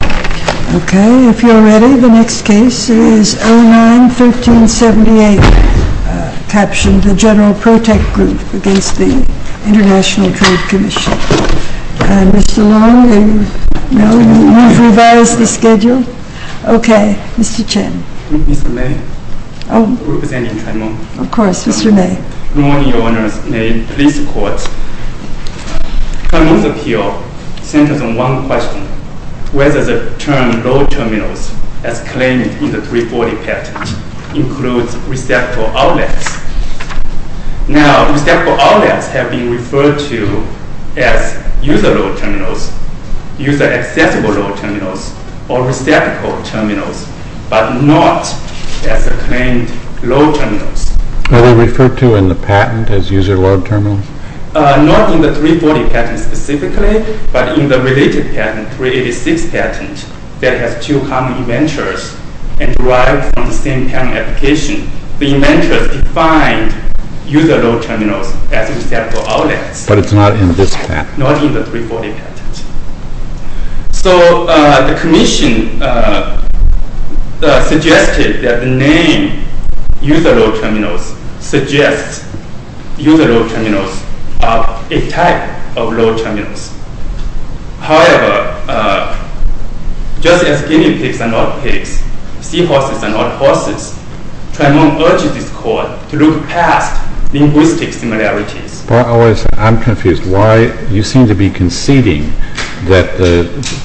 Okay, if you're ready, the next case is 09-1378, captioned the General Protecht Group against the International Trade Commission. Mr. Long, you've revised the schedule. Okay, Mr. Chen. Mr. May, representing Tremont. Of course, Mr. May. Good morning, Your Honors. May it please the court. Tremont's appeal centers on one question, whether the term load terminals, as claimed in the 340 patent, includes receptacle outlets. Now, receptacle outlets have been referred to as user-load terminals, user-accessible load terminals, or receptacle terminals, but not as the claimed load terminals. Are they referred to in the patent as user-load terminals? Not in the 340 patent specifically, but in the related patent, 386 patent, that has two common inventors and derived from the same patent application. The inventors defined user-load terminals as receptacle outlets. But it's not in this patent. Not in the 340 patent. So the commission suggested that the name user-load terminals suggests user-load terminals are a type of load terminals. However, just as guinea pigs are not pigs, seahorses are not horses, Tremont urged this court to look past linguistic similarities. But I'm confused. Why, you seem to be conceding that the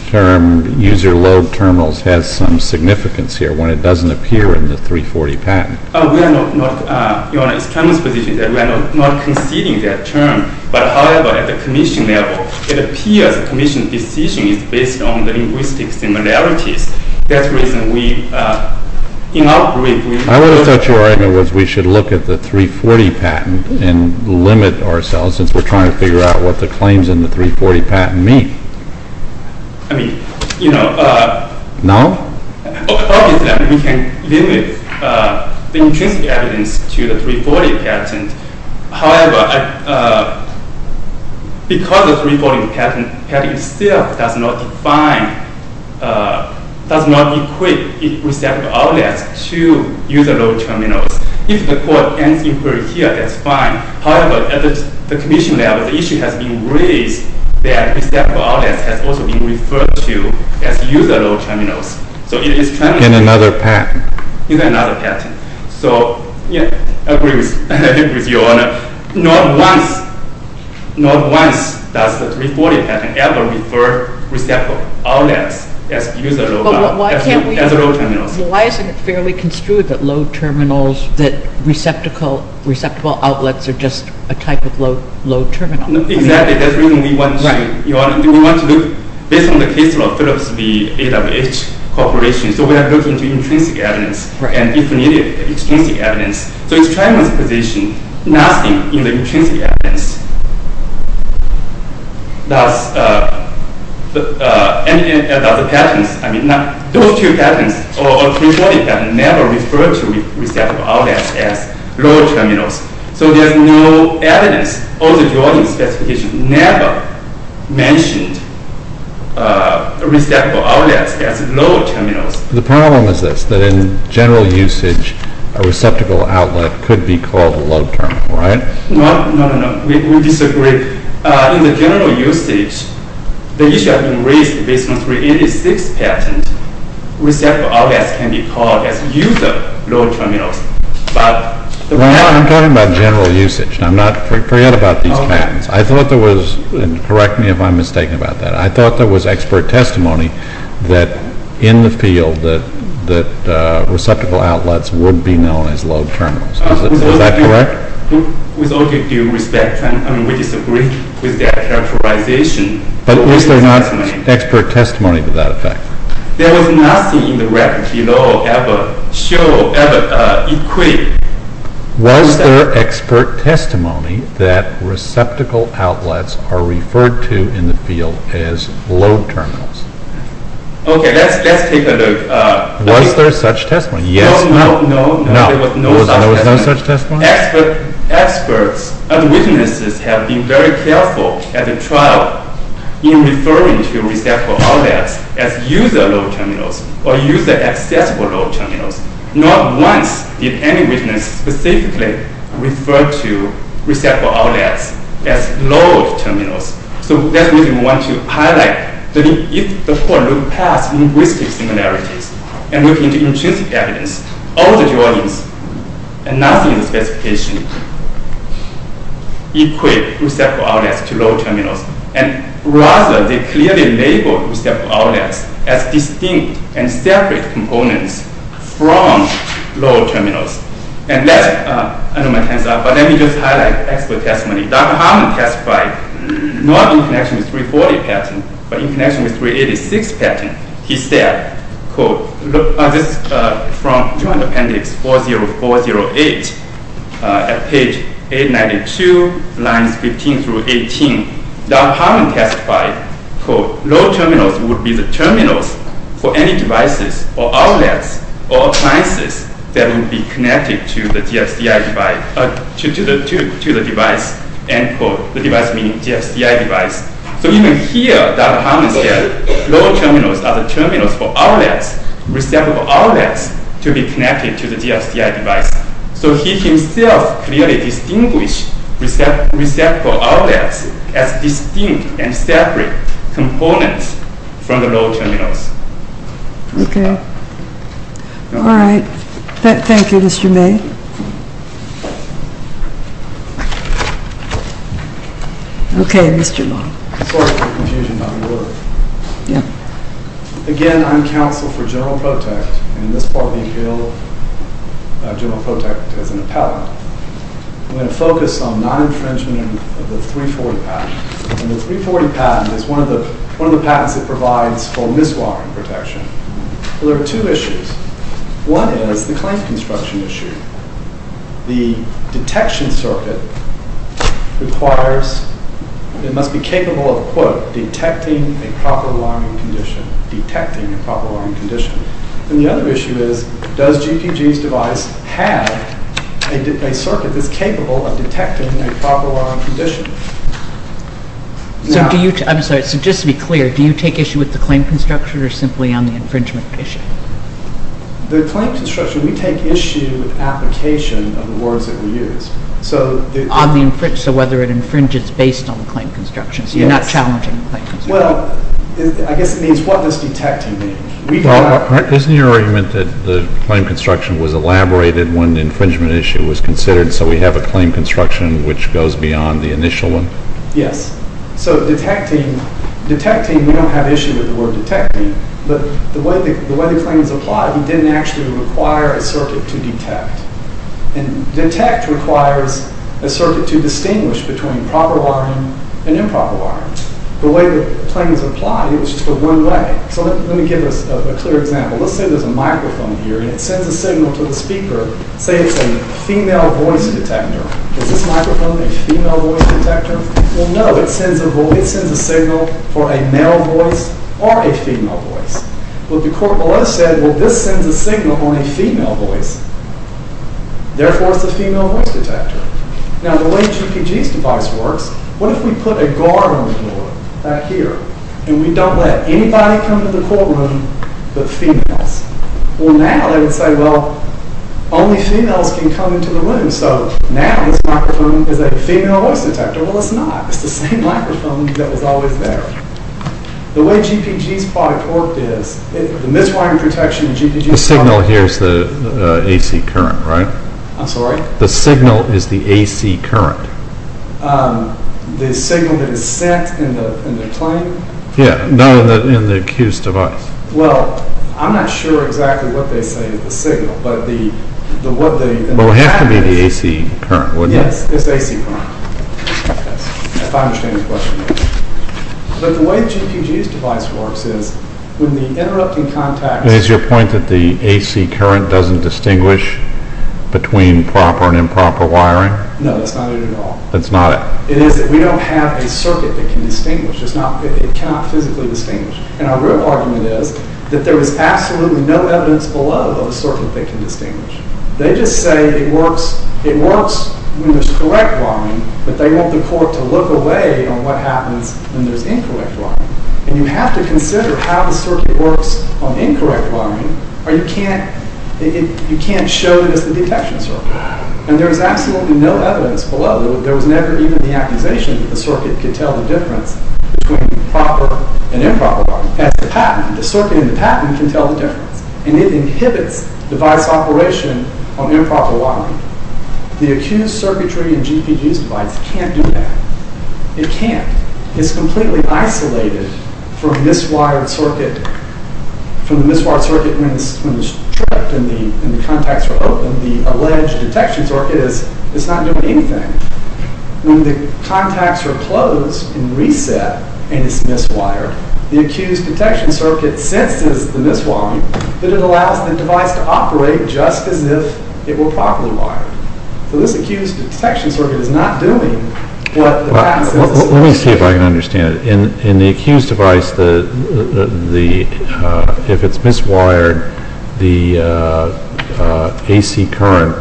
term user-load terminals has some significance here when it doesn't appear in the 340 patent. Oh, we are not, Your Honor, it's Tremont's position that we are not conceding that term, but however, at the commission level, it appears the commission's decision is based on the linguistic similarities. That's the reason we, in our brief, we... I would have thought your argument was we should look at the 340 patent and limit ourselves since we're trying to figure out what the claims in the 340 patent mean. I mean, you know... No? Obviously, we can limit the intrinsic evidence to the 340 patent. However, because of the 340 patent, the patent itself does not define, does not equate receptive outlets to user-load terminals. If the court ends inquiry here, that's fine. However, at the commission level, the issue has been raised that receptive outlets has also been referred to as user-load terminals. So it is Tremont's... In another patent. In another patent. So, yeah, I agree with you, Your Honor. Not once, not once does the 340 patent ever refer receptive outlets as user-load terminals. Why isn't it fairly construed that load terminals, that receptacle, receptable outlets are just a type of load terminal? Exactly, that's the reason we want to... Your Honor, we want to look, based on the case law of Phillips v. AWH Corporation, so we are looking to intrinsic evidence. And if needed, extrinsic evidence. So it's Tremont's position, nothing in the intrinsic evidence. Thus, and in other patents, I mean, those two patents, or 340 patent, never refer to receptable outlets as load terminals. So there's no evidence. All the Jordan specifications never mentioned receptable outlets as load terminals. The problem is this, that in general usage, a receptacle outlet could be called a load terminal, right? No, no, no, no, we disagree. In the general usage, the issue has been raised based on 386 patent. Receptable outlets can be called as user-load terminals, but the problem... Right now, I'm talking about general usage. I'm not, forget about these patents. I thought there was, and correct me if I'm mistaken about that, I thought there was expert testimony that in the field that receptacle outlets would be known as load terminals. Is that correct? With all due respect, I mean, we disagree with that characterization. But was there not expert testimony to that effect? There was nothing in the record below ever show, ever equate. Was there expert testimony that receptacle outlets are referred to in the field as load terminals? Okay, let's take a look. Was there such testimony? Yes. No, no, no. No, there was no such testimony. There was no such testimony? Experts and witnesses have been very careful at the trial in referring to receptacle outlets as user-load terminals, or user-accessible load terminals. Not once did any witness specifically refer to receptacle outlets as load terminals. So that's the reason we want to highlight that if the court look past linguistic similarities and look into intrinsic evidence, all the drawings and nothing in the specification equate receptacle outlets to load terminals. And rather, they clearly label receptacle outlets as distinct and separate components from load terminals. And that's, I know my time's up, but let me just highlight expert testimony. Dr. Harmon testified, not in connection with 340 patent, but in connection with 386 patent. He said, quote, on this, from Joint Appendix 40408, at page 892, lines 15 through 18, Dr. Harmon testified, quote, load terminals would be the terminals for any devices or outlets or appliances that would be connected to the device, end quote. The device meaning GFCI device. So even here, Dr. Harmon said, load terminals are the terminals for outlets, receptacle outlets, to be connected to the GFCI device. So he himself clearly distinguished receptacle outlets as distinct and separate components from the load terminals. And so, he said, quote, the GFCI device would be the terminal for any device. Okay. All right. Thank you, Mr. May. Okay, Mr. Long. Sorry for the confusion about your work. Yeah. Again, I'm counsel for General Protect, and in this part of the appeal, General Protect is an appellate. I'm gonna focus on non-infringement of the 340 patent. And the 340 patent is one of the patents that provides for miswiring protection. There are two issues. One is the clamp construction issue. The detection circuit requires, it must be capable of, quote, detecting a proper wiring condition, detecting a proper wiring condition. And the other issue is, does GPG's device have a circuit that's capable of detecting a proper wiring condition? So do you, I'm sorry, so just to be clear, do you take issue with the clamp construction, or simply on the infringement issue? The clamp construction, we take issue with application of the words that we use. So the- On the infringement, so whether it infringes based on the clamp construction, so you're not challenging the clamp construction. Well, I guess it means what does detecting mean? We do not- Isn't your argument that the clamp construction was elaborated when the infringement issue was considered, so we have a clamp construction which goes beyond the initial one? Yes. So detecting, we don't have issue with the word detecting, but the way the claims apply, we didn't actually require a circuit to detect. And detect requires a circuit to distinguish between proper wiring and improper wiring. The way the claims apply, it was just for one way. So let me give us a clear example. Let's say there's a microphone here, and it sends a signal to the speaker, say it's a female voice detector. Is this microphone a female voice detector? Well, no, it sends a signal for a male voice or a female voice. What the court below said, well, this sends a signal on a female voice, therefore, it's a female voice detector. Now, the way GPG's device works, what if we put a guard on the floor, right here, and we don't let anybody come to the courtroom but females? Well, now they would say, well, only females can come into the room, so now this microphone is a female voice detector. Well, it's not. It's the same microphone that was always there. The way GPG's product worked is, the miswiring protection of GPG's product- The signal here is the AC current, right? I'm sorry? The signal is the AC current. The signal that is sent in the claim? Yeah, not in the accused device. Well, I'm not sure exactly what they say is the signal, but what they- Well, it has to be the AC current, wouldn't it? Yes, it's AC current, if I understand this question. But the way GPG's device works is, when the interrupting contacts- Is your point that the AC current doesn't distinguish between proper and improper wiring? No, that's not it at all. That's not it? It is that we don't have a circuit that can distinguish. It cannot physically distinguish. And our real argument is, that there is absolutely no evidence below of a circuit that can distinguish. They just say it works when there's correct wiring, but they want the court to look away on what happens when there's incorrect wiring. And you have to consider how the circuit works on incorrect wiring, or you can't show it as the detection circuit. And there's absolutely no evidence below. There was never even the accusation that the circuit could tell the difference between proper and improper wiring. As the patent, the circuit and the patent can tell the difference. And it inhibits device operation on improper wiring. The accused circuitry and GPG's device can't do that. It can't. It's completely isolated from this wired circuit, from the miswired circuit when it's tripped and the contacts are open, when the alleged detection circuit is, it's not doing anything. When the contacts are closed and reset, and it's miswired, the accused detection circuit senses the miswiring, that it allows the device to operate just as if it were properly wired. So this accused detection circuit is not doing what the patent says it's supposed to. Let me see if I can understand it. In the accused device, if it's miswired, the AC current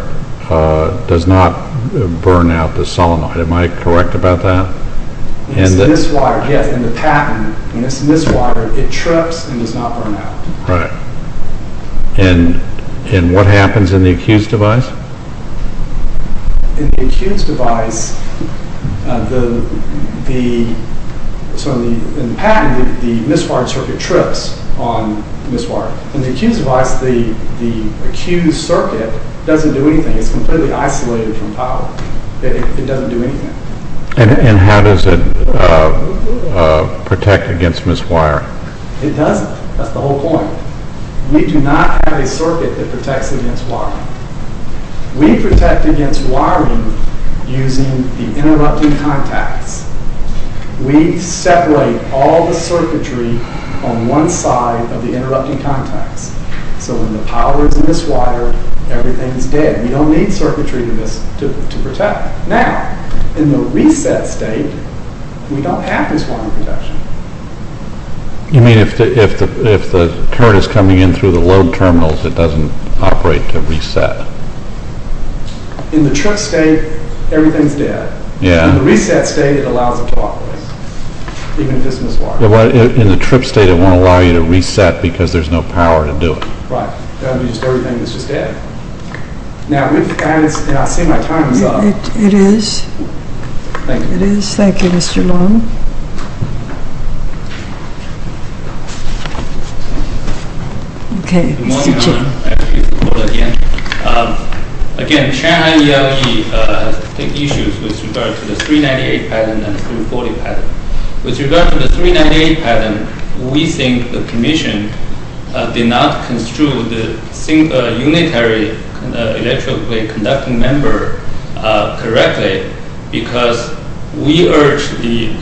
does not burn out the solenoid. Am I correct about that? And the- When it's miswired, yes. In the patent, when it's miswired, it trips and does not burn out. Right. And what happens in the accused device? In the accused device, so in the patent, the miswired circuit trips on miswired. In the accused device, the accused circuit doesn't do anything. It's completely isolated from power. It doesn't do anything. And how does it protect against miswire? It doesn't. That's the whole point. We do not have a circuit that protects against wiring. We protect against wiring using the interrupting contacts. We separate all the circuitry on one side of the interrupting contacts. So when the power is miswired, everything's dead. We don't need circuitry to protect. Now, in the reset state, we don't have miswiring protection. You mean if the current is coming in through the load terminals, it doesn't operate to reset? In the trip state, everything's dead. Yeah. In the reset state, it allows it to operate, even if it's miswired. In the trip state, it won't allow you to reset because there's no power to do it. Right. That would be just everything that's just dead. Now, I see my time is up. It is. Thank you. It is. Thank you, Mr. Long. Okay, Mr. Chen. Good morning, Madam President. I'd like to use the floor again. Again, Shanghai ELE has issues with regard to the 398 pattern and the 340 pattern. With regard to the 398 pattern, we think the commission did not construe the unitary electroplate conducting member correctly because we urge the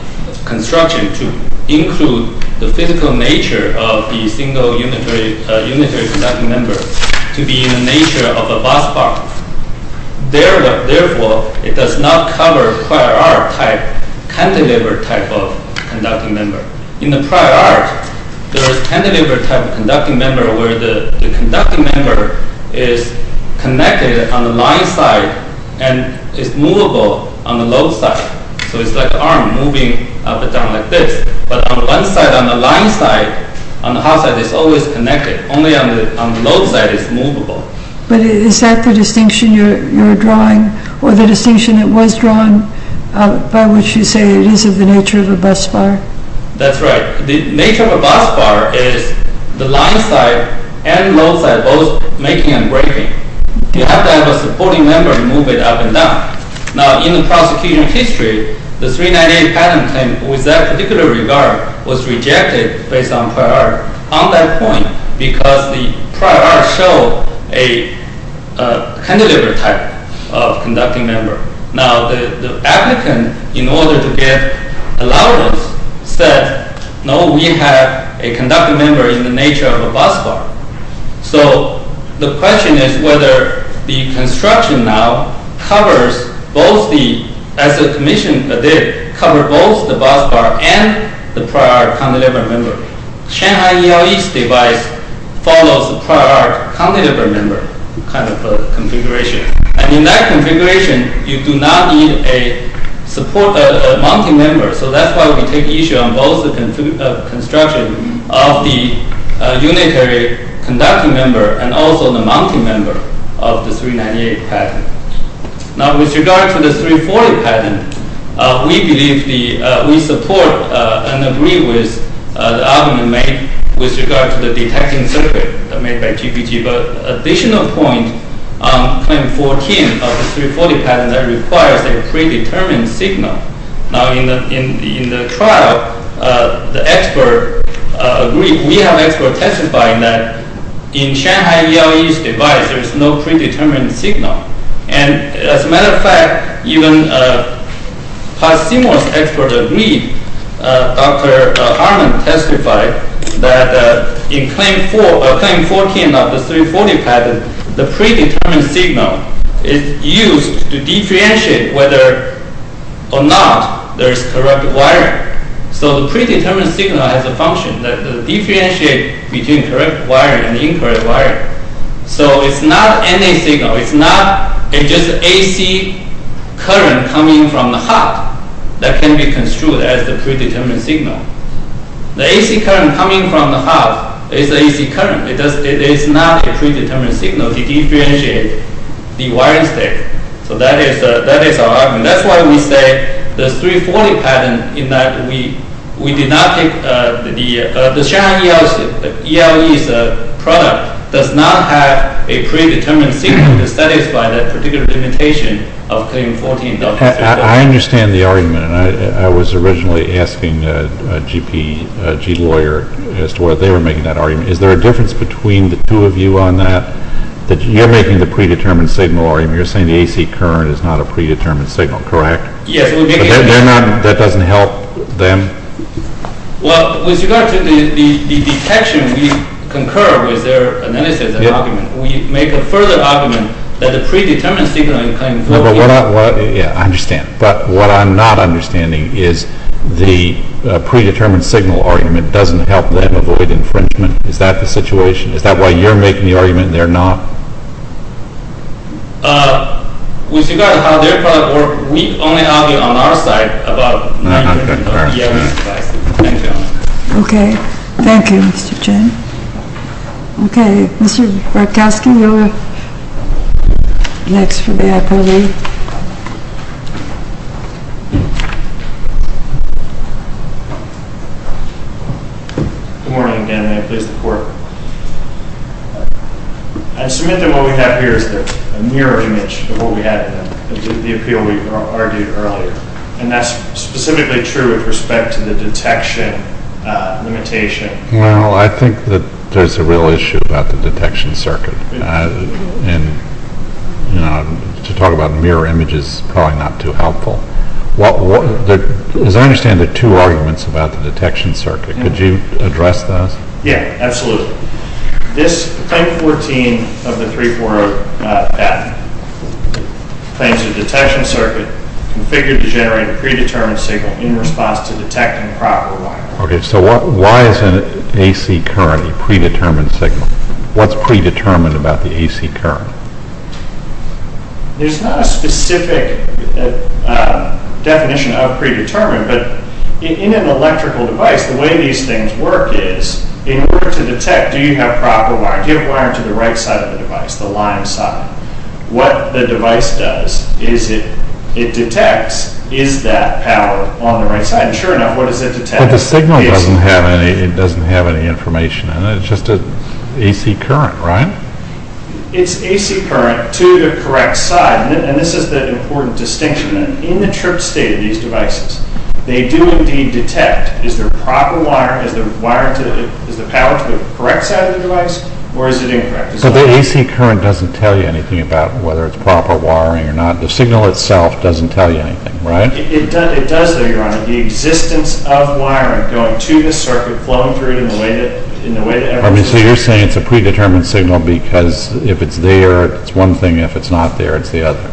construction to include the physical nature of the single unitary conducting member to be in the nature of a bus bar. Therefore, it does not cover the prior art type cantilever type of conducting member. In the prior art, there is cantilever type of conducting member where the conducting member is connected on the line side and is movable on the low side. So it's like an arm moving up and down like this. But on one side, on the line side, on the hot side, it's always connected. Only on the low side, it's movable. But is that the distinction you're drawing or the distinction that was drawn by which you say it is of the nature of a bus bar? That's right. The nature of a bus bar is the line side and low side both making and breaking. You have to have a supporting member to move it up and down. Now, in the prosecution history, the 398 pattern with that particular regard was rejected based on prior art on that point because the prior art showed a cantilever type of conducting member. Now, the applicant, in order to get allowance, said, no, we have a conducting member in the nature of a bus bar. So the question is whether the construction now covers both the, as the commission did, cover both the bus bar and the prior art cantilever member. Shanghai ELE's device follows the prior art cantilever member kind of configuration. And in that configuration, you do not need a support mounting member. So that's why we take issue on both the construction of the unitary conducting member and also the mounting member of the 398 pattern. Now, with regard to the 340 pattern, we believe we support and agree with the argument made with regard to the detecting circuit made by GPT. But additional point on claim 14 of the 340 pattern that requires a predetermined signal. Now, in the trial, the expert agreed, we have expert testifying that in Shanghai ELE's device, there is no predetermined signal. And as a matter of fact, even past CMOS expert agreed, Dr. Harmon testified that in claim 14 of the 340 pattern, the predetermined signal is used to differentiate whether or not there is correct wiring. So the predetermined signal has a function that differentiate between correct wiring and incorrect wiring. So it's not any signal. It's not just AC current coming from the hub that can be construed as the predetermined signal. The AC current coming from the hub is AC current. It is not a predetermined signal to differentiate the wiring state. So that is our argument. That's why we say the 340 pattern, in that we did not take the, the Shanghai ELE's product does not have a predetermined signal to satisfy that particular limitation of claim 14. I understand the argument. And I was originally asking GP, G lawyer as to what they were making that argument. Is there a difference between the two of you on that, that you're making the predetermined signal argument. You're saying the AC current is not a predetermined signal, correct? Yes. They're not, that doesn't help them. Well, with regard to the detection, we concur with their analysis argument. We make a further argument that the predetermined signal in claim 14. Yeah, I understand. But what I'm not understanding is the predetermined signal argument doesn't help them avoid infringement. Is that the situation? Is that why you're making the argument? They're not. With regard to how their product work, we only argue on our side about. Okay. Thank you, Mr. Chen. Okay. Mr. Berkowski, you're next for the IPO meeting. Thank you. Good morning, again. May it please the court. I submit that what we have here is a mirror image of what we had with the appeal we argued earlier. And that's specifically true with respect to the detection limitation. Well, I think that there's a real issue about the detection circuit. And to talk about mirror images, probably not too helpful. As I understand the two arguments about the detection circuit, could you address those? Yeah, absolutely. This claim 14 of the 340 patent claims the detection circuit configured to generate a predetermined signal in response to detecting proper wire. Okay, so why isn't AC currently predetermined signal? What's predetermined about the AC current? There's not a specific definition of predetermined, but in an electrical device, the way these things work is, in order to detect, do you have proper wire? Do you have wire to the right side of the device, the line side? What the device does is it detects, is that power on the right side? And sure enough, what does it detect? But the signal doesn't have any information. It's just an AC current, right? It's AC current to the correct side. And this is the important distinction. In the trip state of these devices, they do indeed detect, is there proper wire, is the power to the correct side of the device, or is it incorrect? But the AC current doesn't tell you anything about whether it's proper wiring or not. The signal itself doesn't tell you anything, right? It does though, your honor. The existence of wiring going to this circuit, flowing through it in the way that, in the way that everything is. I mean, so you're saying it's a predetermined signal because if it's there, it's one thing. If it's not there, it's the other.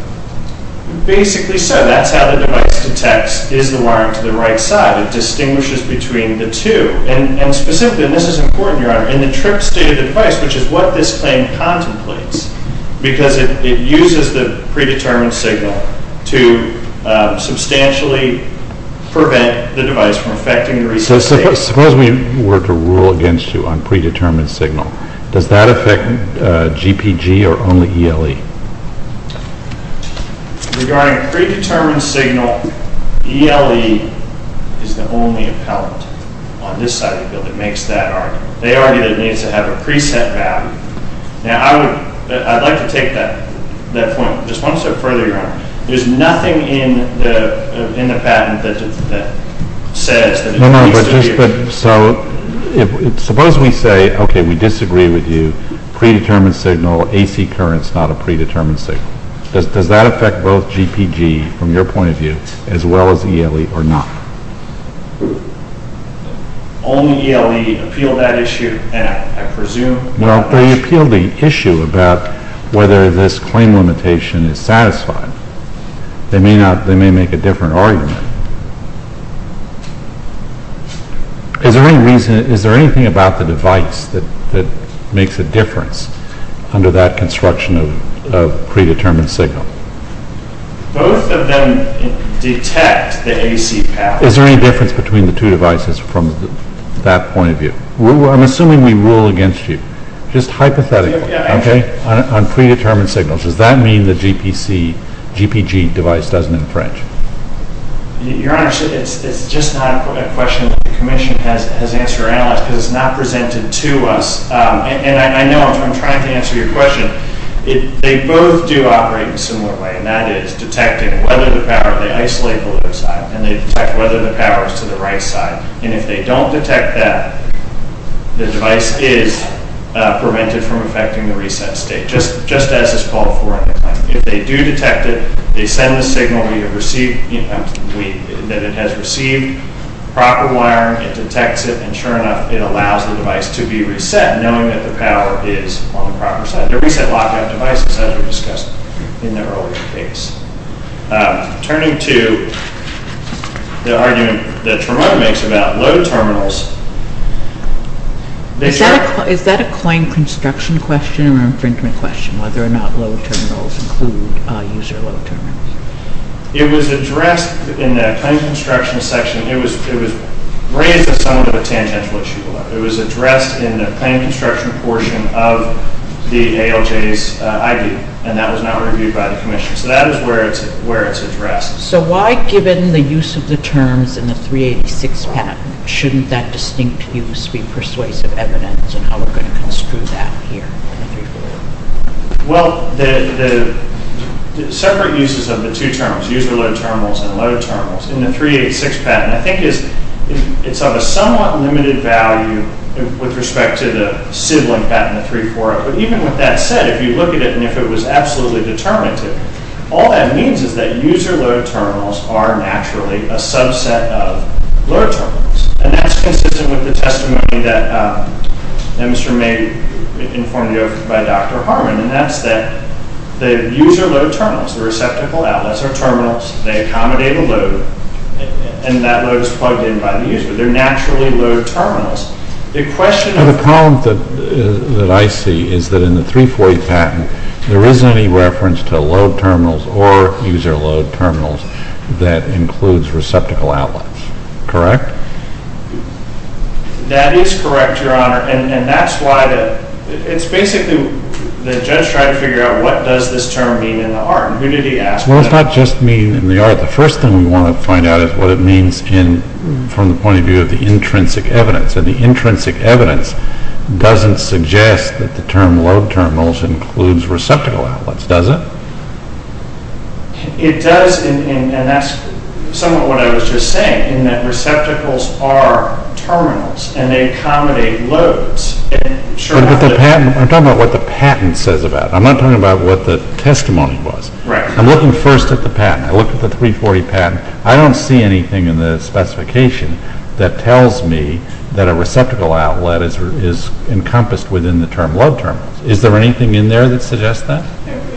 Basically so. That's how the device detects, is the wiring to the right side? It distinguishes between the two. And specifically, and this is important, your honor, in the trip state of the device, which is what this claim contemplates, because it uses the predetermined signal to substantially prevent the device from affecting the receipt state. So suppose we were to rule against you on predetermined signal. Does that affect GPG or only ELE? Regarding predetermined signal, ELE is the only appellant on this side of the bill that makes that argument. They argue that it needs to have a preset value. Now I would, I'd like to take that point just one step further, your honor. There's nothing in the patent that says that it needs to be. So suppose we say, okay, we disagree with you. Predetermined signal, AC current's not a predetermined signal. Does that affect both GPG from your point of view as well as ELE or not? Only ELE appealed that issue, and I presume. Well, they appealed the issue about whether this claim limitation is satisfied. They may not, they may make a different argument. Is there any reason, is there anything about the device that makes a difference under that construction of predetermined signal? Both of them detect the AC path. Is there any difference between the two devices from that point of view? I'm assuming we rule against you, just hypothetically, okay, on predetermined signals. Does that mean the GPC, GPG device doesn't infringe? Your honor, it's just not a question the commission has answered or analyzed because it's not presented to us. And I know, I'm trying to answer your question. They both do operate in a similar way, and that is detecting whether the power, they isolate the left side, and they detect whether the power's to the right side. And if they don't detect that, the device is prevented from affecting the reset state, just as is called for in the claim. If they do detect it, they send the signal that it has received proper wiring, it detects it, and sure enough, it allows the device to be reset, knowing that the power is on the proper side. The reset lockout devices, as we discussed in the earlier case. Turning to the argument that Tremont makes about low terminals. Is that a claim construction question or an infringement question, whether or not low terminals include user low terminals? It was addressed in the claim construction section. It was raised as somewhat of a tangential issue. It was addressed in the claim construction portion of the ALJ's ID, and that was not reviewed by the commission. So that is where it's addressed. So why, given the use of the terms in the 386 patent, shouldn't that distinct use be persuasive evidence in how we're gonna construe that here in the 348? Well, the separate uses of the two terms, user low terminals and low terminals, in the 386 patent, I think is, it's of a somewhat limited value with respect to the sibling patent, the 348. But even with that said, if you look at it and if it was absolutely determinative, all that means is that user low terminals are naturally a subset of low terminals. And that's consistent with the testimony that Mr. May informed you of by Dr. Harmon, and that's that the user low terminals, the receptacle outlets or terminals, they accommodate a load, and that load is plugged in by the user. They're naturally low terminals. The question of- The comment that I see is that in the 348 patent, there isn't any reference to low terminals or user low terminals that includes receptacle outlets. Correct? That is correct, Your Honor. And that's why the, it's basically, the judge tried to figure out what does this term mean in the art? And who did he ask? Well, it's not just mean in the art. The first thing we want to find out is what it means in, from the point of view of the intrinsic evidence. And the intrinsic evidence doesn't suggest that the term low terminals includes receptacle outlets, does it? It does, and that's somewhat what I was just saying, in that receptacles are terminals and they accommodate loads. Sure enough- I'm talking about what the patent says about it. I'm not talking about what the testimony was. Right. I'm looking first at the patent. I looked at the 340 patent. I don't see anything in the specification that tells me that a receptacle outlet is encompassed within the term low terminals. Is there anything in there that suggests that?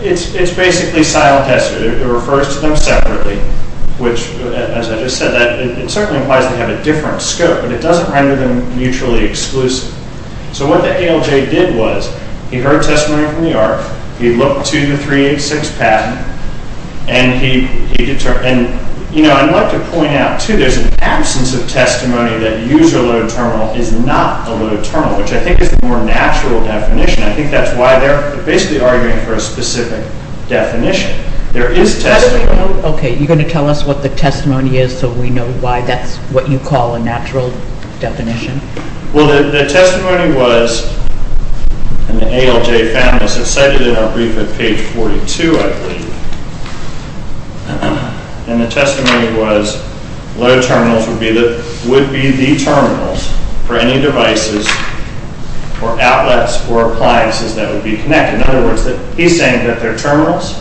It's basically silo-tested. It refers to them separately, which, as I just said, that it certainly implies they have a different scope, but it doesn't render them mutually exclusive. So what the ALJ did was, he heard testimony from the ARC, he looked to the 386 patent, and he determined, and I'd like to point out, too, there's an absence of testimony that user low terminal is not a low terminal, which I think is the more natural definition. I think that's why they're basically arguing for a specific definition. There is testimony- Okay, you're gonna tell us what the testimony is so we know why that's what you call a natural definition? Well, the testimony was, and the ALJ found this, it's cited in our brief at page 42, I believe. And the testimony was, low terminals would be the terminals for any devices or outlets or appliances that would be connected. In other words, he's saying that they're terminals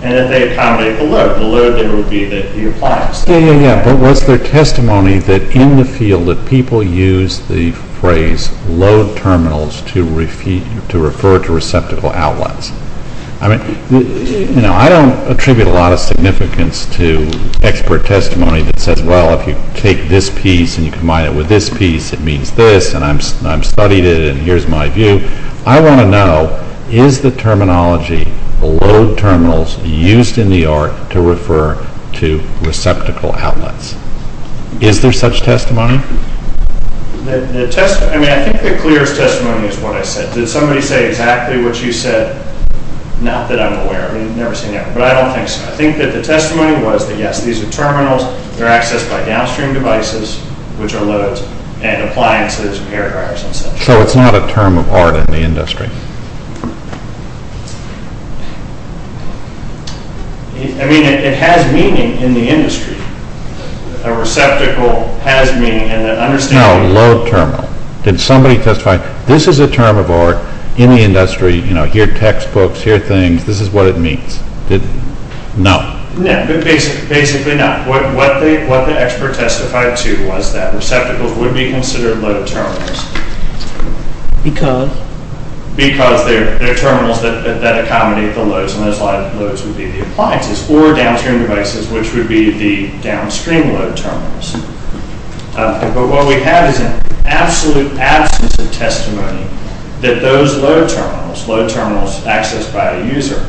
and that they accommodate the load. The load there would be the appliance. Yeah, yeah, yeah, but was there testimony that in the field that people use the phrase low terminals to refer to receptacle outlets? I mean, you know, I don't attribute a lot of significance to expert testimony that says, well, if you take this piece and you combine it with this piece, it means this, and I've studied it, and here's my view. I want to know, is the terminology the low terminals used in the ARC to refer to receptacle outlets? Is there such testimony? The test, I mean, I think the clearest testimony is what I said. Did somebody say exactly what you said? Not that I'm aware of, I mean, I've never seen it, but I don't think so. I think that the testimony was that, yes, these are terminals. They're accessed by downstream devices, which are loads, and appliances, air dryers, and such. I mean, it has meaning in the industry. A receptacle has meaning, and an understanding. No, low terminal. Did somebody testify, this is a term of art in the industry, you know, here are textbooks, here are things, this is what it means. Did, no. No, basically no. What the expert testified to was that receptacles would be considered low terminals. Because? Because they're terminals that accommodate the loads, and those loads would be the appliances, or downstream devices, which would be the downstream load terminals. But what we have is an absolute absence of testimony that those load terminals, load terminals accessed by a user,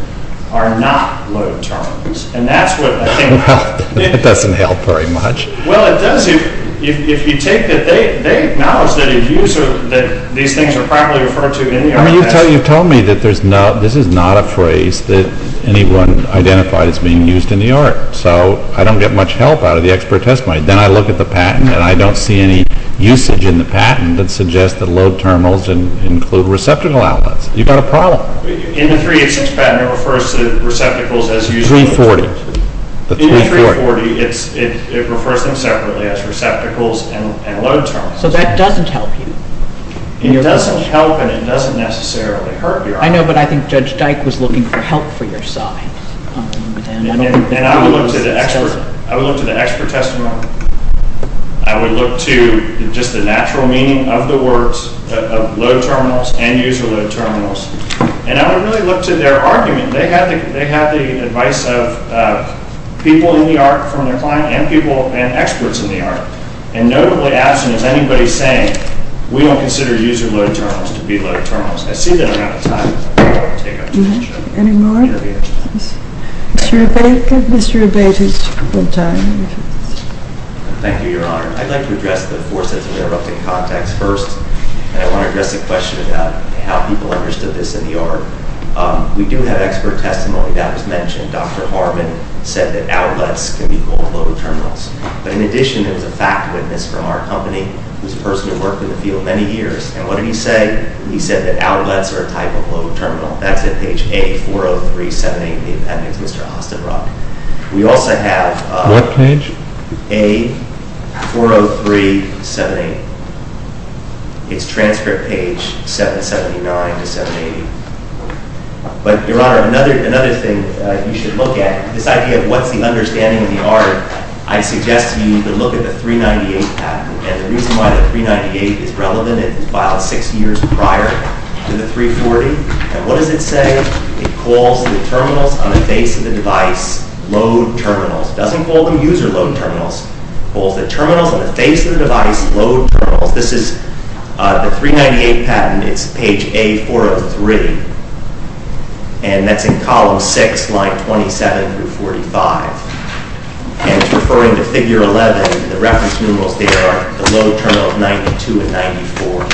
are not load terminals. And that's what I think. It doesn't help very much. Well, it does, if you take that they acknowledge that a user, that these things are properly referred to in the art. I mean, you've told me that there's no, this is not a phrase that anyone identified as being used in the art. So, I don't get much help out of the expert testimony. Then I look at the patent, and I don't see any usage in the patent that suggests that load terminals include receptacle outlets. You've got a problem. In the 386 patent, it refers to receptacles as 340, the 340. In the 340, it refers to them separately as receptacles and load terminals. So that doesn't help you. It doesn't help, and it doesn't necessarily hurt your art. I know, but I think Judge Dyke was looking for help for your side. And I would look to the expert. I would look to the expert testimony. I would look to just the natural meaning of the words of load terminals and user load terminals. And I would really look to their argument. They have the advice of people in the art from their client and people, and experts in the art. And notably absent is anybody saying, we don't consider user load terminals to be load terminals. I see that a lot of times. Do you have any more? Mr. Rabate, give Mr. Rabate his time. Thank you, Your Honor. I'd like to address the four sets of interrupting contexts first. And I want to address the question about how people understood this in the art. We do have expert testimony that was mentioned. Dr. Harbin said that outlets can be called load terminals. But in addition, there was a fact witness from our company who's a person who worked in the field many years. And what did he say? He said that outlets are a type of load terminal. That's at page A40378. It appends Mr. Austin Rock. We also have A40378. It's transcript page 779 to 780. But Your Honor, another thing you should look at, this idea of what's the understanding of the art, I suggest you look at the 398 patent. And the reason why the 398 is relevant, filed six years prior to the 340. And what does it say? It calls the terminals on the face of the device load terminals. Doesn't call them user load terminals. Calls the terminals on the face of the device load terminals. This is the 398 patent. It's page A403. And that's in column six, line 27 through 45. And it's referring to figure 11. The reference numerals there are the load terminal of 92 and 94.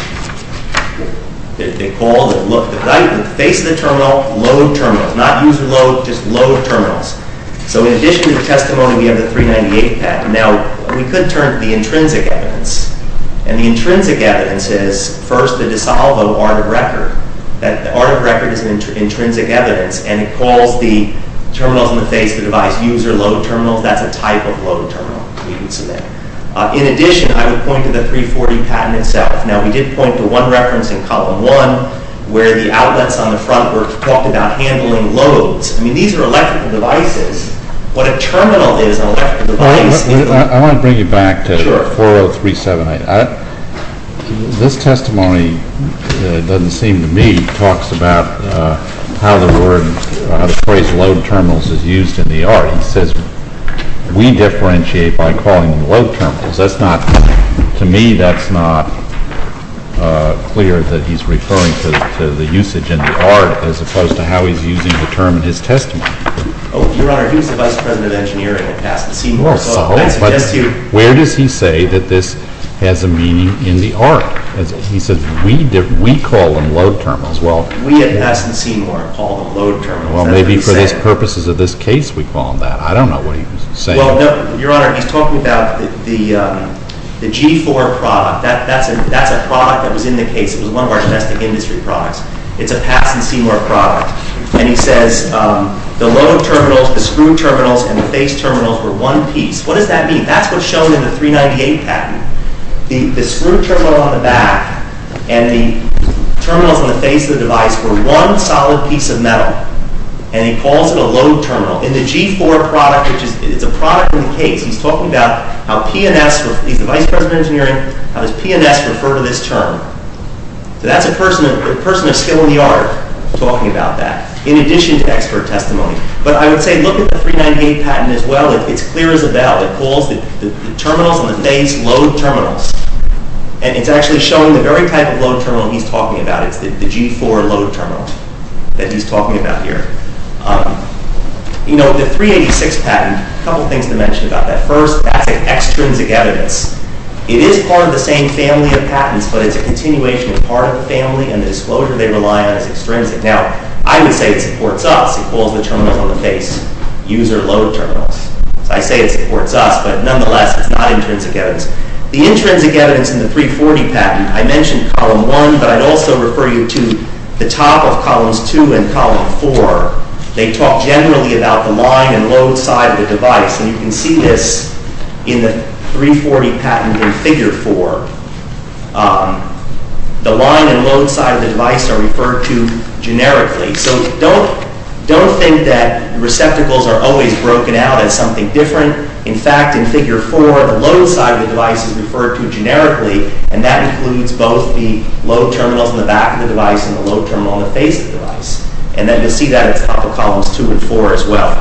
They call the face of the terminal load terminals. Not user load, just load terminals. So in addition to the testimony, we have the 398 patent. Now, we could turn to the intrinsic evidence. And the intrinsic evidence is, first, the DiSalvo art of record. That art of record is an intrinsic evidence. And it calls the terminals on the face of the device user load terminals. That's a type of load terminal. In addition, I would point to the 340 patent itself. Now, we did point to one reference in column one, where the outlets on the front were talking about handling loads. I mean, these are electrical devices. What a terminal is on an electrical device is a load. I want to bring you back to 40378. This testimony, it doesn't seem to me, talks about how the phrase load terminals is used in the art. It says, we differentiate by calling them load terminals. To me, that's not clear that he's referring to the usage in the art, as opposed to how he's using the term in his testimony. Oh, Your Honor, he was the Vice President of Engineering at Aston Seymour. So that suggests to you. Where does he say that this has a meaning in the art? He said, we call them load terminals. Well, we at Aston Seymour call them load terminals. Well, maybe for the purposes of this case, we call them that. I don't know what he was saying. Your Honor, he's talking about the G4 product. That's a product that was in the case. It was one of our domestic industry products. It's a Patson Seymour product. And he says, the load terminals, the screw terminals, and the face terminals were one piece. What does that mean? That's what's shown in the 398 patent. The screw terminal on the back and the terminals on the face of the device were one solid piece of metal. And he calls it a load terminal. In the G4 product, which is a product in the case, he's talking about how P&S, he's the Vice President of Engineering, how does P&S refer to this term? So that's a person of skill in the art talking about that, in addition to expert testimony. But I would say, look at the 398 patent as well. It's clear as a bell. It calls the terminals on the face load terminals. And it's actually showing the very type of load terminal he's talking about. It's the G4 load terminal that he's talking about here. The 386 patent, a couple things to mention about that. First, that's an extrinsic evidence. It is part of the same family of patents. But it's a continuation of part of the family. And the disclosure they rely on is extrinsic. Now, I would say it supports us. It calls the terminals on the face user load terminals. I say it supports us. But nonetheless, it's not intrinsic evidence. The intrinsic evidence in the 340 patent, I mentioned column 1. But I'd also refer you to the top of columns 2 and column 4. They talk generally about the line and load side of the device. And you can see this in the 340 patent in figure 4. The line and load side of the device are referred to generically. So don't think that receptacles are always broken out as something different. In fact, in figure 4, the load side of the device is referred to generically. And that includes both the load terminals in the back of the device and the load terminal on the face of the device. And then you'll see that in top of columns 2 and 4 as well.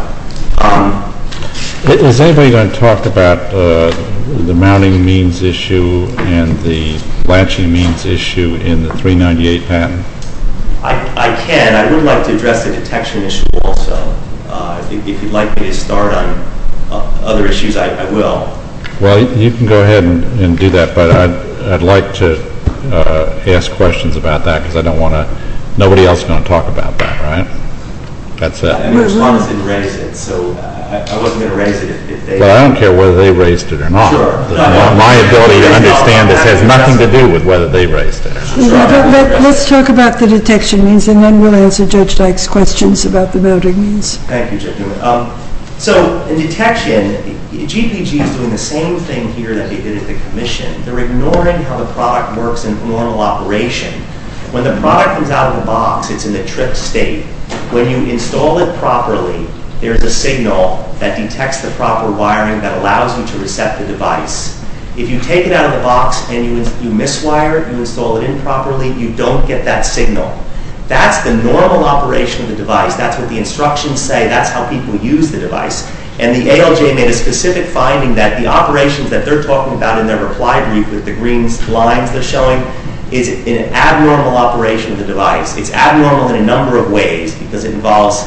Is anybody going to talk about the mounting means issue and the latching means issue in the 398 patent? I can. I would like to address the detection issue also. If you'd like me to start on other issues, I will. Well, you can go ahead and do that. But I'd like to ask questions about that, because I don't want to. Nobody else is going to talk about that, right? That's it. I mean, the respondents didn't raise it. So I wasn't going to raise it if they did. Well, I don't care whether they raised it or not. Sure. My ability to understand this has nothing to do with whether they raised it or not. Let's talk about the detection means. And then we'll answer Judge Dyke's questions about the mounting means. Thank you, Judge Newman. So in detection, GPG is doing the same thing here that they did at the commission. They're ignoring how the product works in normal operation. When the product comes out of the box, it's in the tripped state. When you install it properly, there is a signal that detects the proper wiring that allows you to recept the device. If you take it out of the box and you miswire, you install it improperly, you don't get that signal. That's the normal operation of the device. That's what the instructions say. That's how people use the device. And the ALJ made a specific finding that the operations that they're talking about in their reply brief with the green lines they're showing is an abnormal operation of the device. It's abnormal in a number of ways because it involves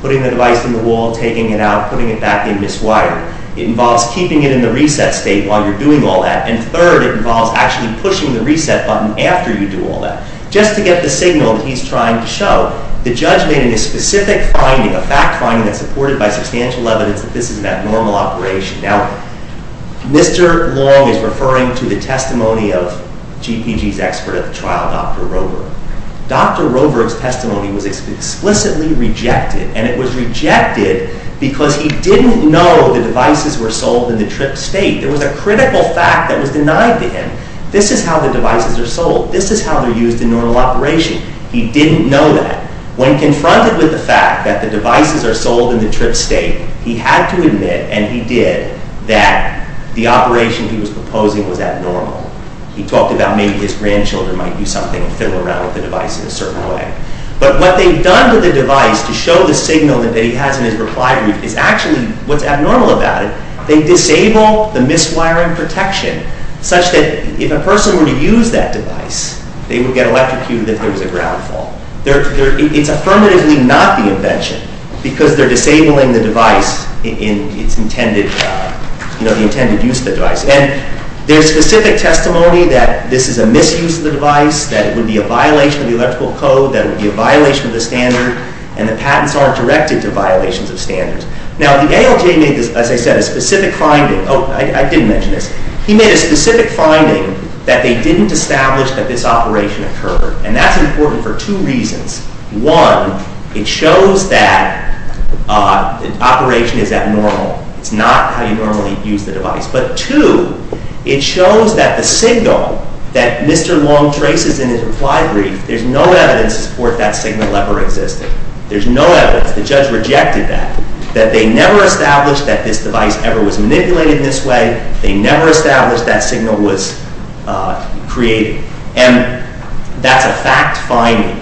putting the device in the wall, taking it out, putting it back in miswired. It involves keeping it in the reset state while you're doing all that. And third, it involves actually pushing the reset button after you do all that, just to get the signal that he's trying to show. The judge made a specific finding, a fact finding that's supported by substantial evidence that this is an abnormal operation. Now, Mr. Long is referring to the testimony of GPG's expert at the trial, Dr. Roberg. Dr. Roberg's testimony was explicitly rejected. And it was rejected because he didn't know the devices were sold in the trip state. There was a critical fact that was denied to him. This is how the devices are sold. This is how they're used in normal operation. He didn't know that. When confronted with the fact that the devices are that the operation he was proposing was abnormal, he talked about maybe his grandchildren might do something and fiddle around with the device in a certain way. But what they've done to the device to show the signal that he has in his reply group is actually what's abnormal about it. They disable the miswiring protection such that if a person were to use that device, they would get electrocuted if there was a ground fall. It's affirmatively not the invention because they're disabling the device in its intended use of the device. And there's specific testimony that this is a misuse of the device, that it would be a violation of the electrical code, that it would be a violation of the standard, and the patents aren't directed to violations of standards. Now, the ALJ made this, as I said, a specific finding. Oh, I didn't mention this. He made a specific finding that they didn't establish that this operation occurred. And that's important for two reasons. One, it shows that the operation is abnormal. It's not how you normally use the device. But two, it shows that the signal that Mr. Long traces in his reply brief, there's no evidence to support that signal ever existed. There's no evidence. The judge rejected that, that they never established that this device ever was manipulated this way. They never established that signal was created. And that's a fact finding.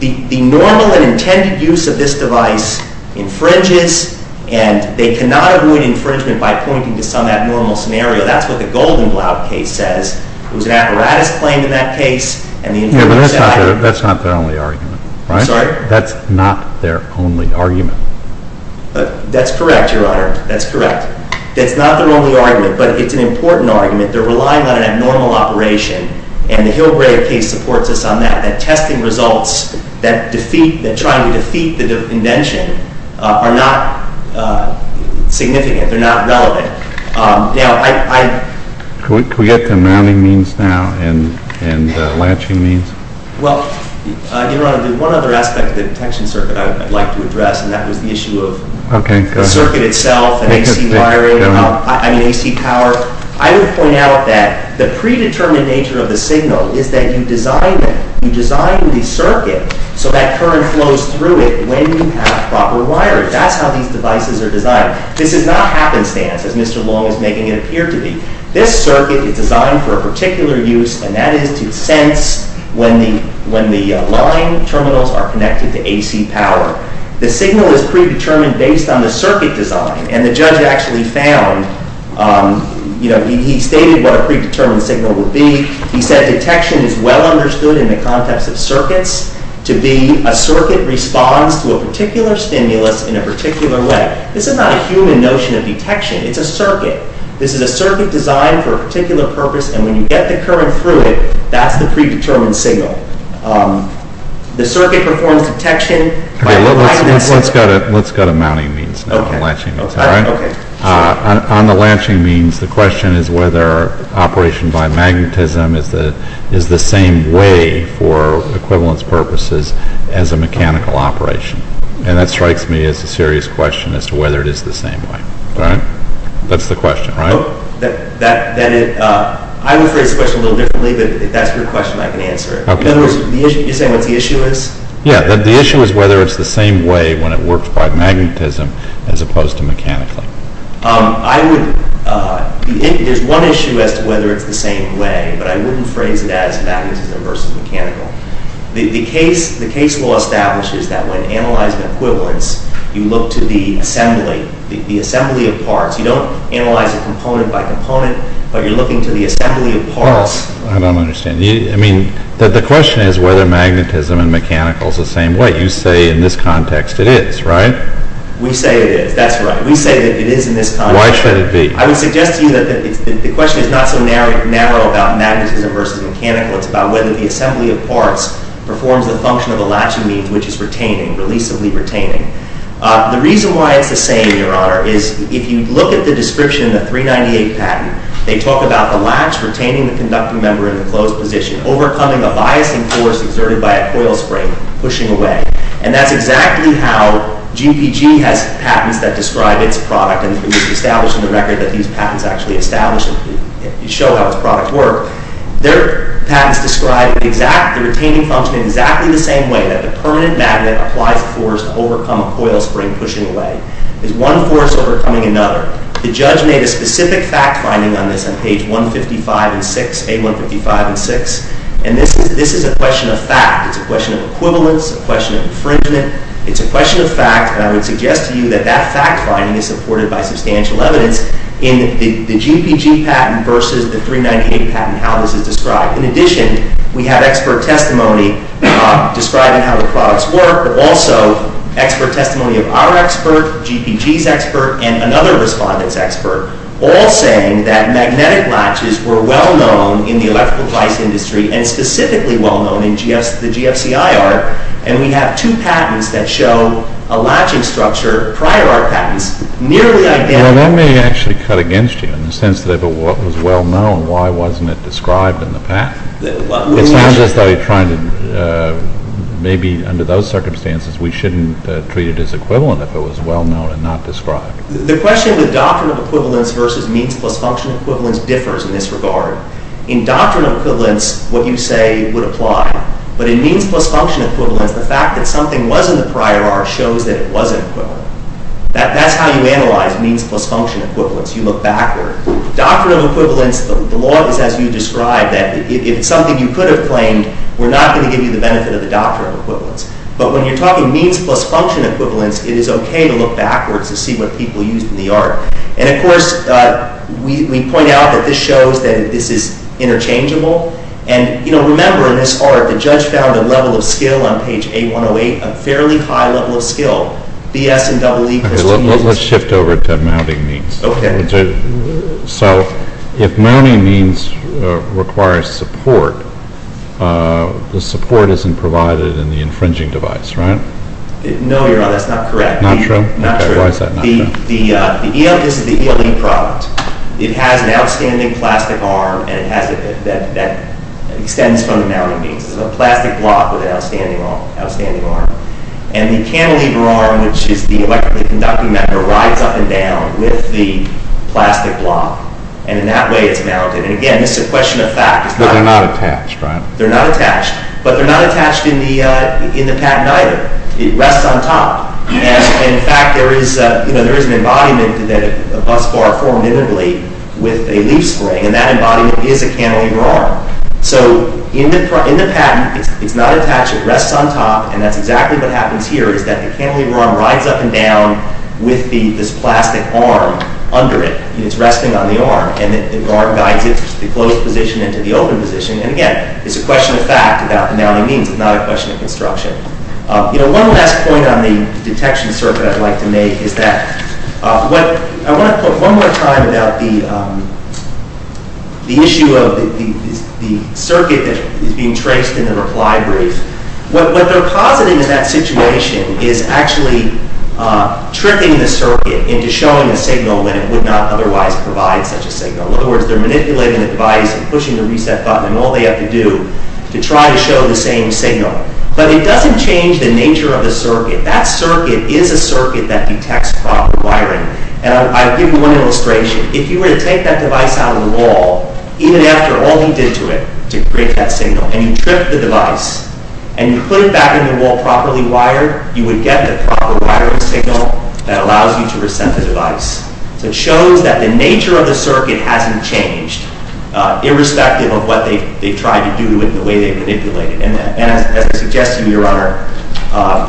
The normal and intended use of this device infringes. And they cannot avoid infringement by pointing to some abnormal scenario. That's what the Goldenblatt case says. It was an apparatus claim in that case. And the infringer said it. That's not their only argument, right? I'm sorry? That's not their only argument. That's correct, Your Honor. That's correct. That's not their only argument. But it's an important argument. They're relying on an abnormal operation. And the Hillgrave case supports us on that. That testing results that try to defeat the invention are not significant. They're not relevant. Now, I'm Could we get to mounting means now and latching means? Well, Your Honor, there's one other aspect of the detection circuit I'd like to address. And that was the issue of the circuit itself and AC power. I would point out that the predetermined nature of the signal is that you design it. You design the circuit so that current flows through it when you have proper wiring. That's how these devices are designed. This is not happenstance, as Mr. Long is making it appear to be. This circuit is designed for a particular use. And that is to sense when the line terminals are connected to AC power. The signal is predetermined based on the circuit design. And the judge actually found, he stated what a predetermined signal would be. He said detection is well understood in the context of circuits to be a circuit responds to a particular stimulus in a particular way. This is not a human notion of detection. It's a circuit. This is a circuit designed for a particular purpose. And when you get the current through it, that's the predetermined signal. The circuit performs detection by wiring that signal. Let's go to mounting means now and latching means, all right? On the latching means, the question is whether operation by magnetism is the same way for equivalence purposes as a mechanical operation. And that strikes me as a serious question as to whether it is the same way. That's the question, right? I would phrase the question a little differently, but if that's your question, I can answer it. In other words, you're saying what the issue is? Yeah, the issue is whether it's the same way when it works by magnetism as opposed to mechanically. I would, there's one issue as to whether it's the same way, but I wouldn't phrase it as magnetism versus mechanical. The case law establishes that when analyzing equivalence, you look to the assembly, the assembly of parts. You don't analyze a component by component, but you're looking to the assembly of parts. I don't understand. I mean, the question is whether magnetism and mechanical is the same way. You say in this context it is, right? We say it is. That's right. We say that it is in this context. Why should it be? I would suggest to you that the question is not so narrow about magnetism versus mechanical. It's about whether the assembly of parts performs the function of the latching means, which is retaining, releasably retaining. The reason why it's the same, Your Honor, is if you look at the description of the 398 patent, they talk about the latch retaining the conducting member in a closed position, overcoming a biasing force exerted by a coil spring pushing away. And that's exactly how GPG has patents that describe its product. And it was established in the record that these patents actually establish and show how its products work. Their patents describe the retaining function in exactly the same way that the permanent magnet applies force to overcome a coil spring pushing away. It's one force overcoming another. The judge made a specific fact finding on this on page 155 and 6, A155 and 6. And this is a question of fact. It's a question of equivalence, a question of infringement. It's a question of fact. And I would suggest to you that that fact finding is supported by substantial evidence in the GPG patent versus the 398 patent, how this is described. In addition, we have expert testimony describing how the products work, but also expert testimony of our expert, GPG's expert, and another respondent's expert, all saying that magnetic latches were well-known in the electrical device industry and specifically well-known in the GFCIR. And we have two patents that show a latching structure, prior art patents, nearly identical. Well, that may actually cut against you in the sense that if it was well-known, why wasn't it described in the patent? It sounds as though you're trying to maybe under those circumstances, we shouldn't treat it as equivalent if it was well-known and not described. The question of the doctrine of equivalence versus means plus function equivalence differs in this regard. In doctrine of equivalence, what you say would apply. But in means plus function equivalence, the fact that something was in the prior art shows that it wasn't equivalent. That's how you analyze means plus function equivalence. You look backward. Doctrine of equivalence, the law is as you described, that if it's something you could have claimed, we're not gonna give you the benefit of the doctrine of equivalence. But when you're talking means plus function equivalence, it is okay to look backwards to see what people used in the art. And of course, we point out that this shows that this is interchangeable. And remember, in this art, the judge found a level of skill on page A-108, a fairly high level of skill, B-S and double E. Let's shift over to mounting means. Okay. So if mounting means requires support, the support isn't provided in the infringing device, right? No, Your Honor, that's not correct. Not true? Okay, why is that not true? This is the ELE product. It has an outstanding plastic arm and it has, that extends from the mounting means. It's a plastic block with an outstanding arm. And the cantilever arm, which is the electrically conducting metal, rides up and down with the plastic block. And in that way, it's mounted. And again, it's a question of fact. But they're not attached, right? They're not attached. But they're not attached in the patent either. It rests on top. And in fact, there is an embodiment that a bus bar formed immediately with a leaf spring. And that embodiment is a cantilever arm. So in the patent, it's not attached, it rests on top. And that's exactly what happens here, is that the cantilever arm rides up and down with this plastic arm under it. And it's resting on the arm. And the arm guides it to the closed position and to the open position. And again, it's a question of fact about the mounting means. It's not a question of construction. You know, one last point on the detection circuit I'd like to make is that, I wanna talk one more time about the, the issue of the circuit that is being traced in the reply brief. What they're positing is that situation is actually tricking the circuit into showing a signal when it would not otherwise provide such a signal. In other words, they're manipulating the device and pushing the reset button and all they have to do to try to show the same signal. But it doesn't change the nature of the circuit. That circuit is a circuit that detects proper wiring. And I'll give you one illustration. If you were to take that device out of the wall, even after all you did to it, to create that signal, and you tripped the device, and you put it back in the wall properly wired, you would get the proper wiring signal that allows you to reset the device. So it shows that the nature of the circuit hasn't changed irrespective of what they've tried to do with the way they've manipulated. And as I suggest to you, Your Honor,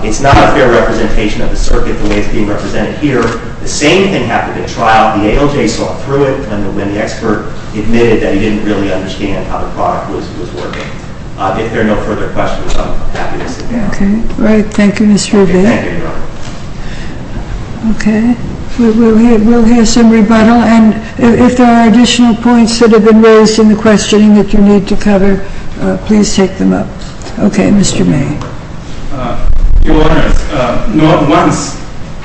it's not a fair representation of the circuit the way it's being represented here. The same thing happened at trial. The ALJ saw through it, and when the expert admitted that he didn't really understand how the product was working. If there are no further questions, I'm happy to sit down. Okay, all right. Thank you, Mr. Rivea. Thank you, Your Honor. Okay, we'll hear some rebuttal. And if there are additional points that have been raised in the questioning that you need to cover, please take them up. Okay, Mr. May. Your Honor, not once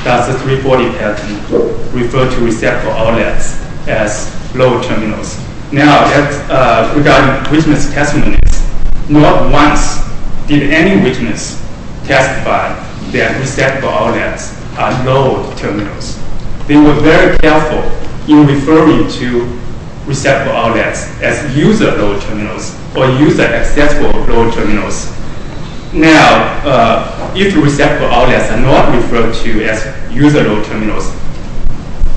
does the 340PFD refer to receptacle outlets as low terminals. Now, regarding witness testimonies, not once did any witness testify that receptacle outlets are low terminals. They were very careful in referring to receptacle outlets as user-low terminals or user-accessible low terminals. Now, if receptacle outlets are not referred to as user-low terminals,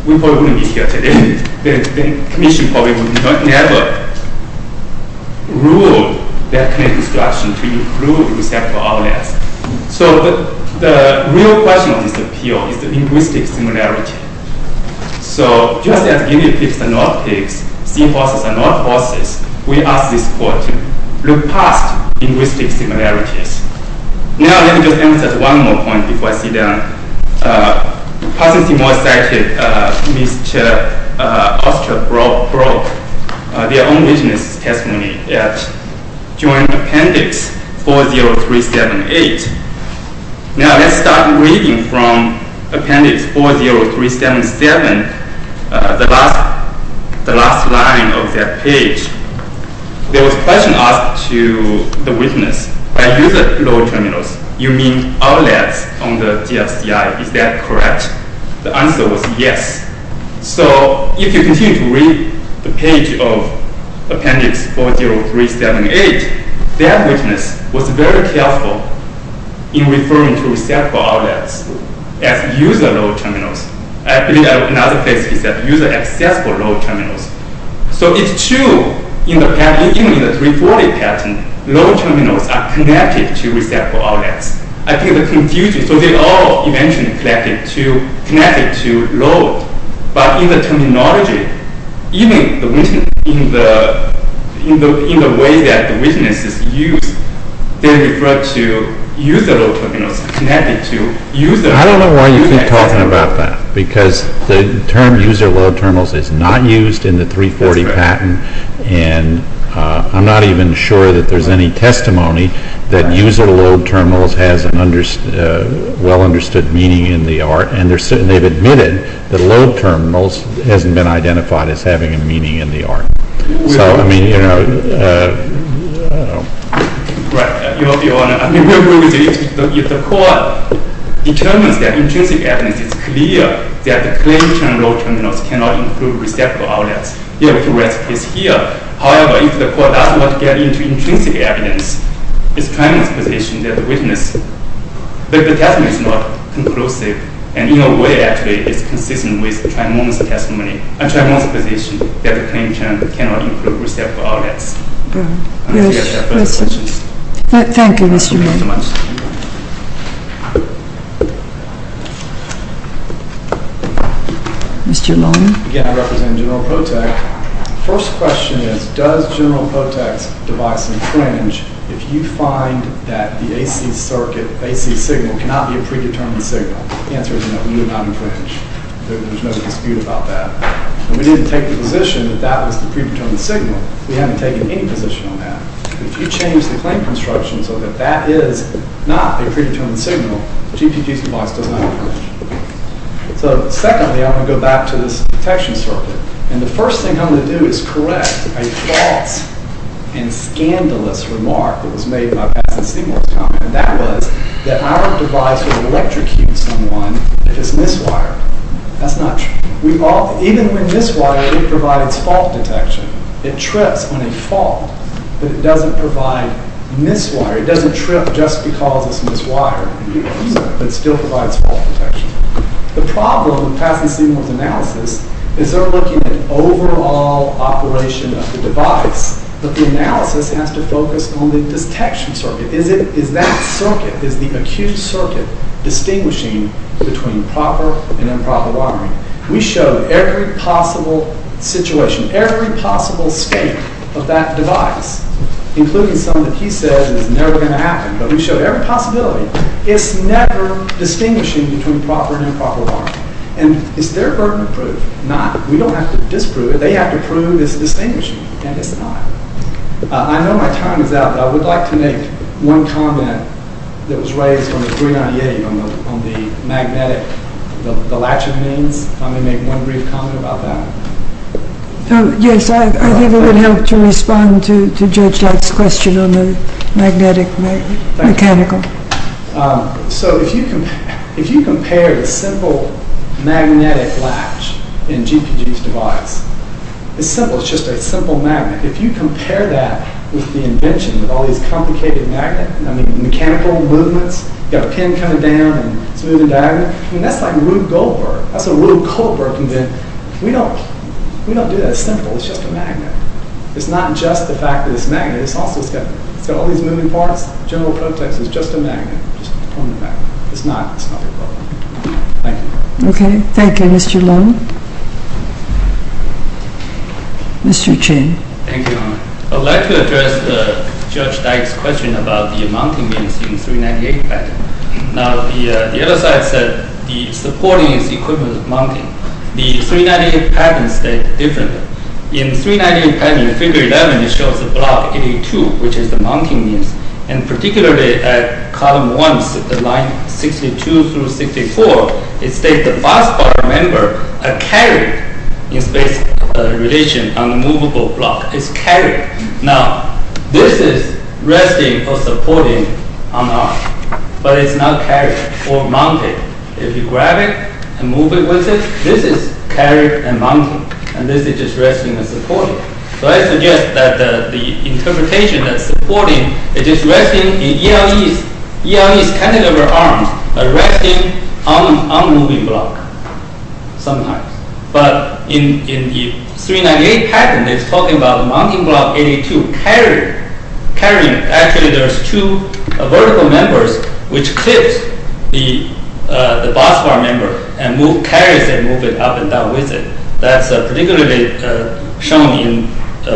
we probably wouldn't be here today. The commission probably would never rule that kind of instruction to include receptacle outlets. So the real question on this appeal is the linguistic similarity. So just as guinea pigs are not pigs, seahorses are not horses, we ask this court to look past linguistic similarities. Now, let me just emphasize one more point before I sit down. Possibly more cited, Mr. Osterbrock their own witness testimony at Joint Appendix 40378. Now, let's start reading from Appendix 40377, the last line of that page. There was a question asked to the witness. By user-low terminals, you mean outlets on the GFCI. Is that correct? The answer was yes. So if you continue to read the page of Appendix 40378, that witness was very careful in referring to receptacle outlets as user-low terminals. I believe another place he said user-accessible low terminals. So it's true, even in the 340 patent, low terminals are connected to receptacle outlets. I think the confusion, so they're all eventually connected to low, but in the terminology, even in the way that the witnesses use, they refer to user-low terminals connected to user- I don't know why you keep talking about that, because the term user-low terminals is not used in the 340 patent, and I'm not even sure that there's any testimony that user-low terminals has a well-understood meaning in the art, and they've admitted that low terminals hasn't been identified as having a meaning in the art. So, I mean, you know, I don't know. Right, Your Honor, I mean, if the court determines that intrinsic evidence is clear that the claim of low terminals cannot include receptacle outlets, you have to write a case here. However, if the court does not get into intrinsic evidence, it's a claimant's position that the witness, that the testimony is not conclusive, and in a way, actually, it's consistent with Trimone's testimony, and Trimone's position that the claimant cannot include receptacle outlets. I guess we have further questions. Thank you, Mr. Long. Mr. Long? Again, I represent General POTEC. First question is, does General POTEC's device infringe if you find that the AC signal cannot be a predetermined signal? The answer is no, we do not infringe. There's no dispute about that. And we didn't take the position that that was the predetermined signal. We haven't taken any position on that. If you change the claim construction so that that is not a predetermined signal, GPT's device does not infringe. So secondly, I'm gonna go back to this detection circuit, and the first thing I'm gonna do is correct a false and scandalous remark that was made by Paz and Seymour's comment. That was that our device would electrocute someone if it's miswired. That's not true. We all, even when miswired, it provides fault detection. It trips on a fault, but it doesn't provide miswire. It doesn't trip just because it's miswired, but it still provides fault detection. The problem, Paz and Seymour's analysis, is they're looking at overall operation of the device, but the analysis has to focus on the detection circuit. Is that circuit, is the acute circuit, distinguishing between proper and improper wiring? We showed every possible situation, every possible scape of that device, including some that he says is never gonna happen, but we showed every possibility. It's never distinguishing between proper and improper wiring, and is there a burden of proof? Not. We don't have to disprove it. They have to prove it's distinguishing, and it's not. I know my time is out, but I would like to make one comment that was raised on the 398 on the magnetic, the latch remains. If I may make one brief comment about that. Yes, I think it would help to respond to Judge Lack's question on the magnetic mechanical. So if you compare the simple magnetic latch in GPG's device, it's simple. It's just a simple magnet. If you compare that with the invention, with all these complicated magnetic, I mean, mechanical movements, you got a pin coming down and it's moving diagonally, I mean, that's like Rube Goldberg. That's what Rube Goldberg invented. We don't do that simple. It's just a magnet. It's not just the fact that it's magnetic. It's also, it's got all these moving parts. General prototypes is just a magnet, just on the back. It's not, it's not Rube Goldberg. Thank you. Okay, thank you, Mr. Leung. Mr. Chen. Thank you, Your Honor. I'd like to address Judge Dyke's question about the mounting means in 398 patent. Now, the other side said, the supporting is the equivalent of mounting. The 398 patents state differently. In 398 patent, figure 11, it shows the block 82, which is the mounting means, and particularly at column one, line 62 through 64, it states the fast part, remember, are carried in space relation on the movable block. It's carried. Now, this is resting or supporting on R, but it's not carried or mounted. If you grab it and move it with it, this is carried and mounted, and this is just resting and supporting. So I suggest that the interpretation that's supporting, it is resting in ELE's cantilever arms, resting on moving block sometimes. But in the 398 patent, it's talking about mounting block 82, carrying, actually there's two vertical members, which clips the boss bar member and move, carries it, move it up and down with it. That's particularly shown in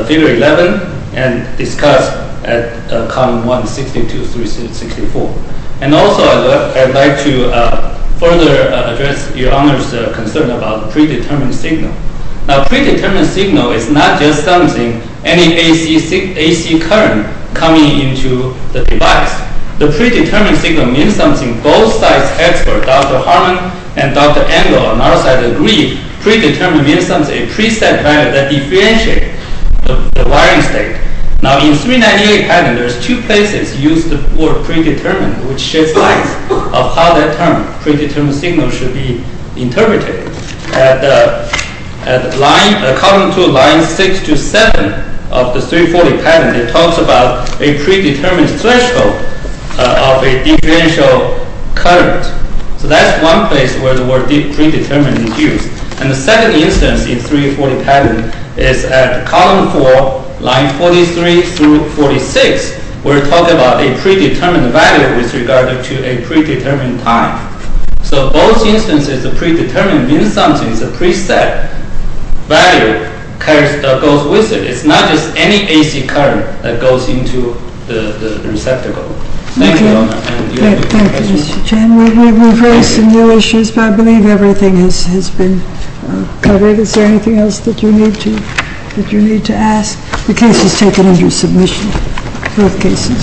figure 11 and discussed at column one, 62 through 64. And also, I'd like to further address your honor's concern about predetermined signal. Now, predetermined signal is not just something, any AC current coming into the device. The predetermined signal means something both sides expert, Dr. Harmon and Dr. Engel on our side agree predetermined means something, preset value that differentiate the wiring state. Now in 398 patent, there's two places used the word predetermined, which sheds light of how that term, predetermined signal should be interpreted. At line, column two, line six to seven of the 340 patent, it talks about a predetermined threshold of a differential current. So that's one place where the word predetermined and the second instance in 340 patent is at column four, line 43 through 46. We're talking about a predetermined value with regard to a predetermined time. So both instances, the predetermined means something, it's a preset value, carries, goes with it. It's not just any AC current that goes into the receptacle. Thank you, your honor. Thank you, Mr. Chen, we've raised some new issues, but I believe everything has been covered. Is there anything else that you need to ask? The case was taken under submission, both cases.